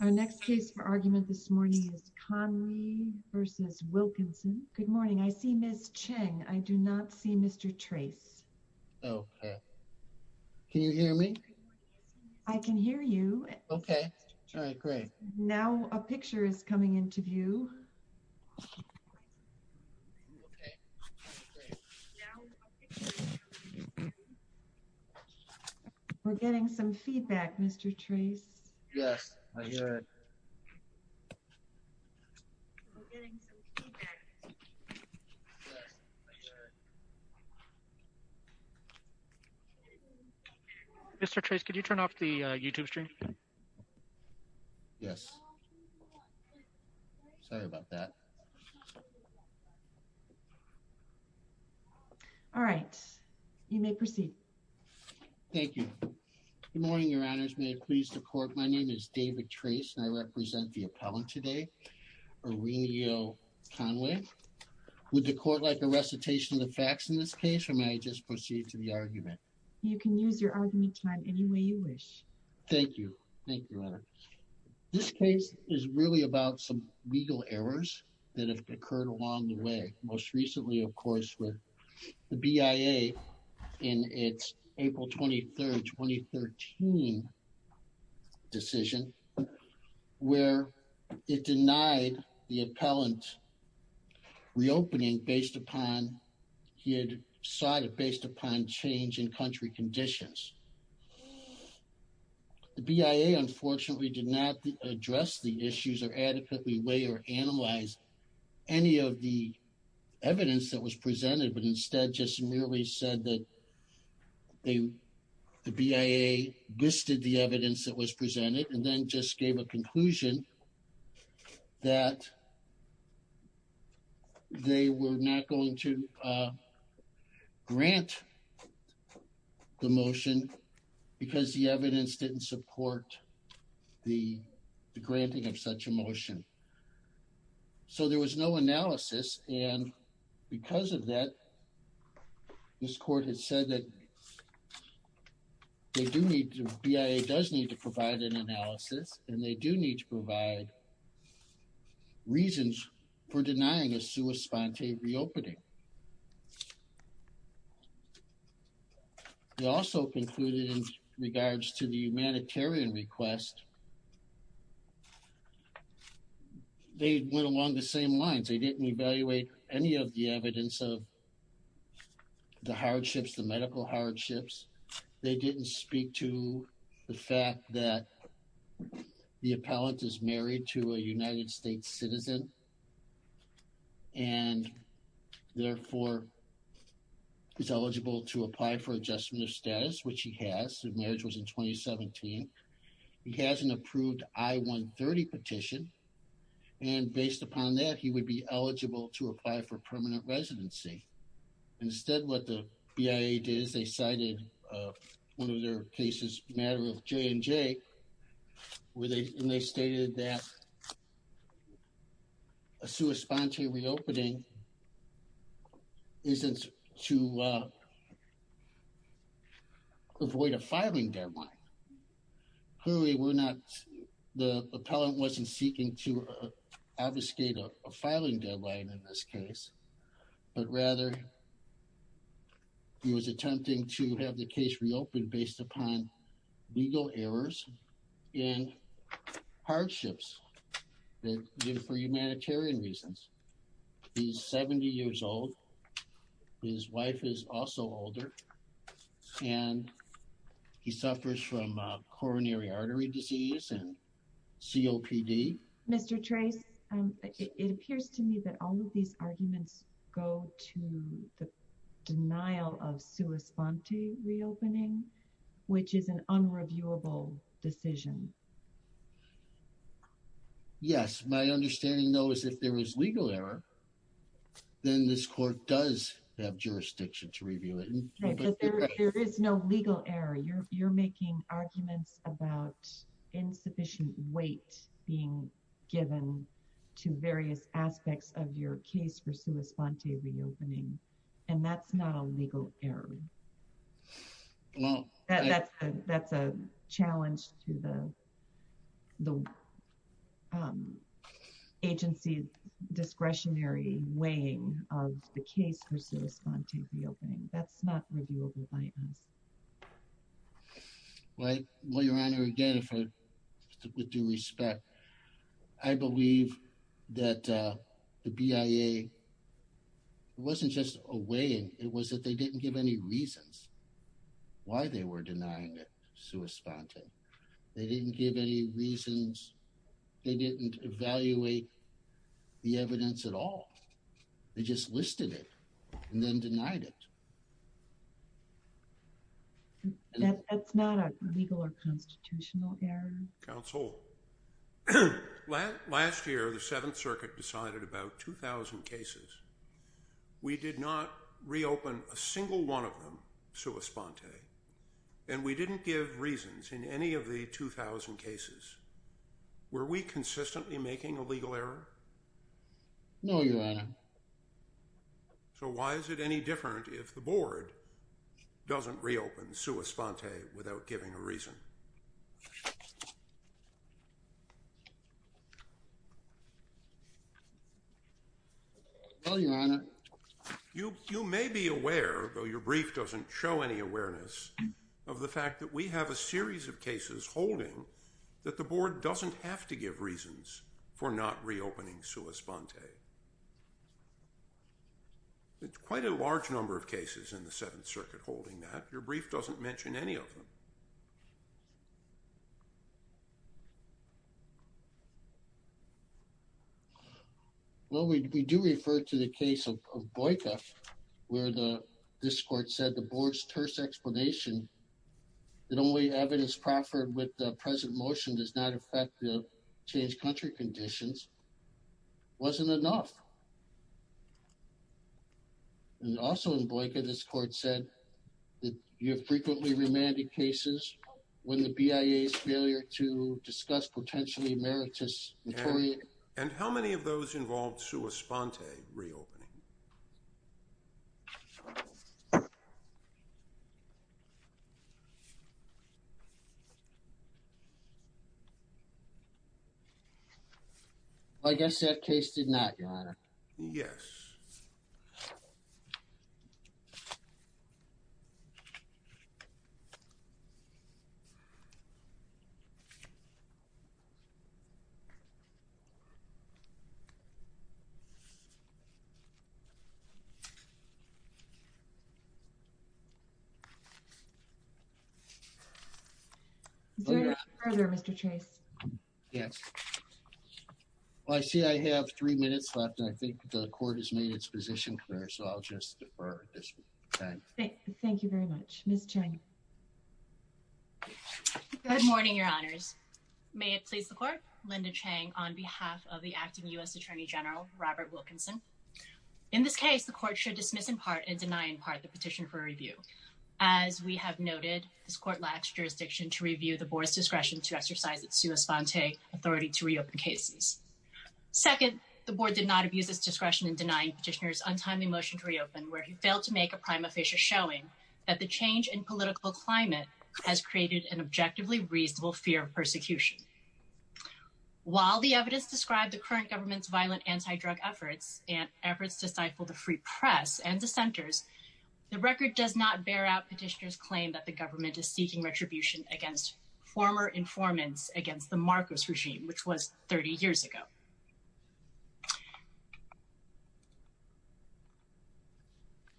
Our next case for argument this morning is Conwi v. Wilkinson. Good morning. I see Ms. Cheng. I do not see Mr. Trace. Okay. Can you hear me? I can hear you. Okay. All right. Great. Now a picture is coming into view. We're getting some feedback, Mr. Trace. Yes, I hear it. We're getting some feedback. Yes, I hear it. Mr. Trace, could you turn off the YouTube stream? Yes. Sorry about that. All right. You may proceed. Thank you. Good morning, Your Honors. May it please the Court, my name is David Trace, and I represent the appellant today, Aurelio Conwi. Would the Court like a recitation of the facts in this case, or may I just proceed to the argument? You can use your argument time any way you wish. Thank you. Thank you, Your Honor. This case is really about some legal errors that have occurred along the way. Most recently, of course, with the BIA in its April 23, 2013 decision, where it denied the appellant reopening based upon he had decided, based upon change in country conditions. The BIA, unfortunately, did not address the issues or adequately weigh or analyze any of the evidence that was presented, but instead just merely said that the BIA listed the evidence that was presented and then just gave a conclusion that they were not going to grant the motion. And because the evidence didn't support the granting of such a motion. So there was no analysis, and because of that, this Court has said that they do need to, BIA does need to provide an analysis, and they do need to provide reasons for denying a sua sponte reopening. They also concluded in regards to the humanitarian request, they went along the same lines. They didn't evaluate any of the evidence of the hardships, the medical hardships. They didn't speak to the fact that the appellant is married to a United States citizen and, therefore, is eligible to apply for adjustment of status, which he has. The marriage was in 2017. He has an approved I-130 petition, and based upon that, he would be eligible to apply for permanent residency. Instead, what the BIA did is they cited one of their cases, a matter of J&J, where they stated that a sua sponte reopening isn't to avoid a filing deadline. Clearly, we're not, the appellant wasn't seeking to obfuscate a filing deadline in this case, but rather, he was attempting to have the case reopened based upon legal errors and hardships for humanitarian reasons. He's 70 years old. His wife is also older, and he suffers from coronary artery disease and COPD. Mr. Trace, it appears to me that all of these arguments go to the denial of sua sponte reopening, which is an unreviewable decision. Yes. My understanding, though, is if there is legal error, then this court does have jurisdiction to review it. There is no legal error. You're making arguments about insufficient weight being given to various aspects of your case for sua sponte reopening, and that's not a legal error. That's a challenge to the agency's discretionary weighing of the case for sua sponte reopening. That's not reviewable by us. Well, Your Honor, again, with due respect, I believe that the BIA wasn't just weighing. It was that they didn't give any reasons why they were denying sua sponte. They didn't give any reasons. They didn't evaluate the evidence at all. They just listed it and then denied it. That's not a legal or constitutional error. Counsel, last year, the Seventh Circuit decided about 2,000 cases. We did not reopen a single one of them sua sponte, and we didn't give reasons in any of the 2,000 cases. Were we consistently making a legal error? No, Your Honor. So why is it any different if the Board doesn't reopen sua sponte without giving a reason? No, Your Honor. You may be aware, though your brief doesn't show any awareness, of the fact that we have a series of cases holding that the Board doesn't have to give reasons for not reopening sua sponte. It's quite a large number of cases in the Seventh Circuit holding that. Your brief doesn't mention any of them. Well, we do refer to the case of BoICA, where this Court said the Board's terse explanation that only evidence proffered with the present motion does not affect the changed country conditions wasn't enough. And also in BoICA, this Court said that you have frequently remanded cases when the BIA's failure to discuss potentially emeritus... And how many of those involved sua sponte reopening? I guess that case did not, Your Honor. Yes. Is there anything further, Mr. Chase? Yes. Well, I see I have three minutes left, and I think the Court has made its position clear, so I'll just defer this time. Thank you very much. Ms. Chang. Good morning, Your Honors. May it please the Court? Linda Chang on behalf of the Acting U.S. Attorney General, Robert Wilkinson. In this case, the Court should dismiss in part and deny in part the petition for review. As we have noted, this Court lacks jurisdiction to review the Board's discretion to exercise its sua sponte authority to reopen cases. Second, the Board did not abuse its discretion in denying Petitioner's untimely motion to reopen where he failed to make a prima facie showing that the change in political climate has created an objectively reasonable fear of persecution. While the evidence described the current government's violent anti-drug efforts and efforts to stifle the free press and dissenters, the record does not bear out Petitioner's claim that the government is seeking retribution against former informants against the Marcos regime, which was 30 years ago.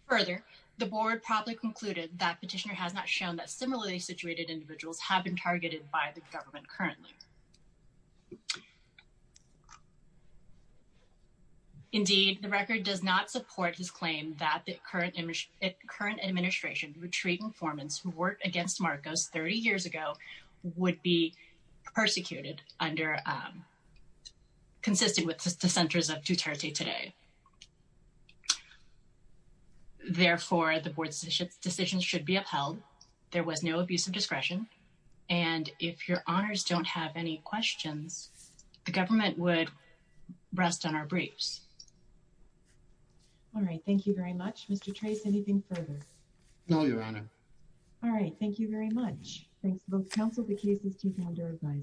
Further, the Board probably concluded that Petitioner has not shown that similarly situated individuals have been targeted by the government currently. Indeed, the record does not support his claim that the current administration's retreating informants who worked against Marcos 30 years ago would be persecuted, consisting with dissenters of Duterte today. Therefore, the Board's decision should be upheld. There was no abuse of discretion. And if your Honours don't have any questions, the government would rest on our briefs. All right, thank you very much. Mr. Trace, anything further? No, Your Honour. All right, thank you very much. Thanks to both counsel, the cases team, and our advisers.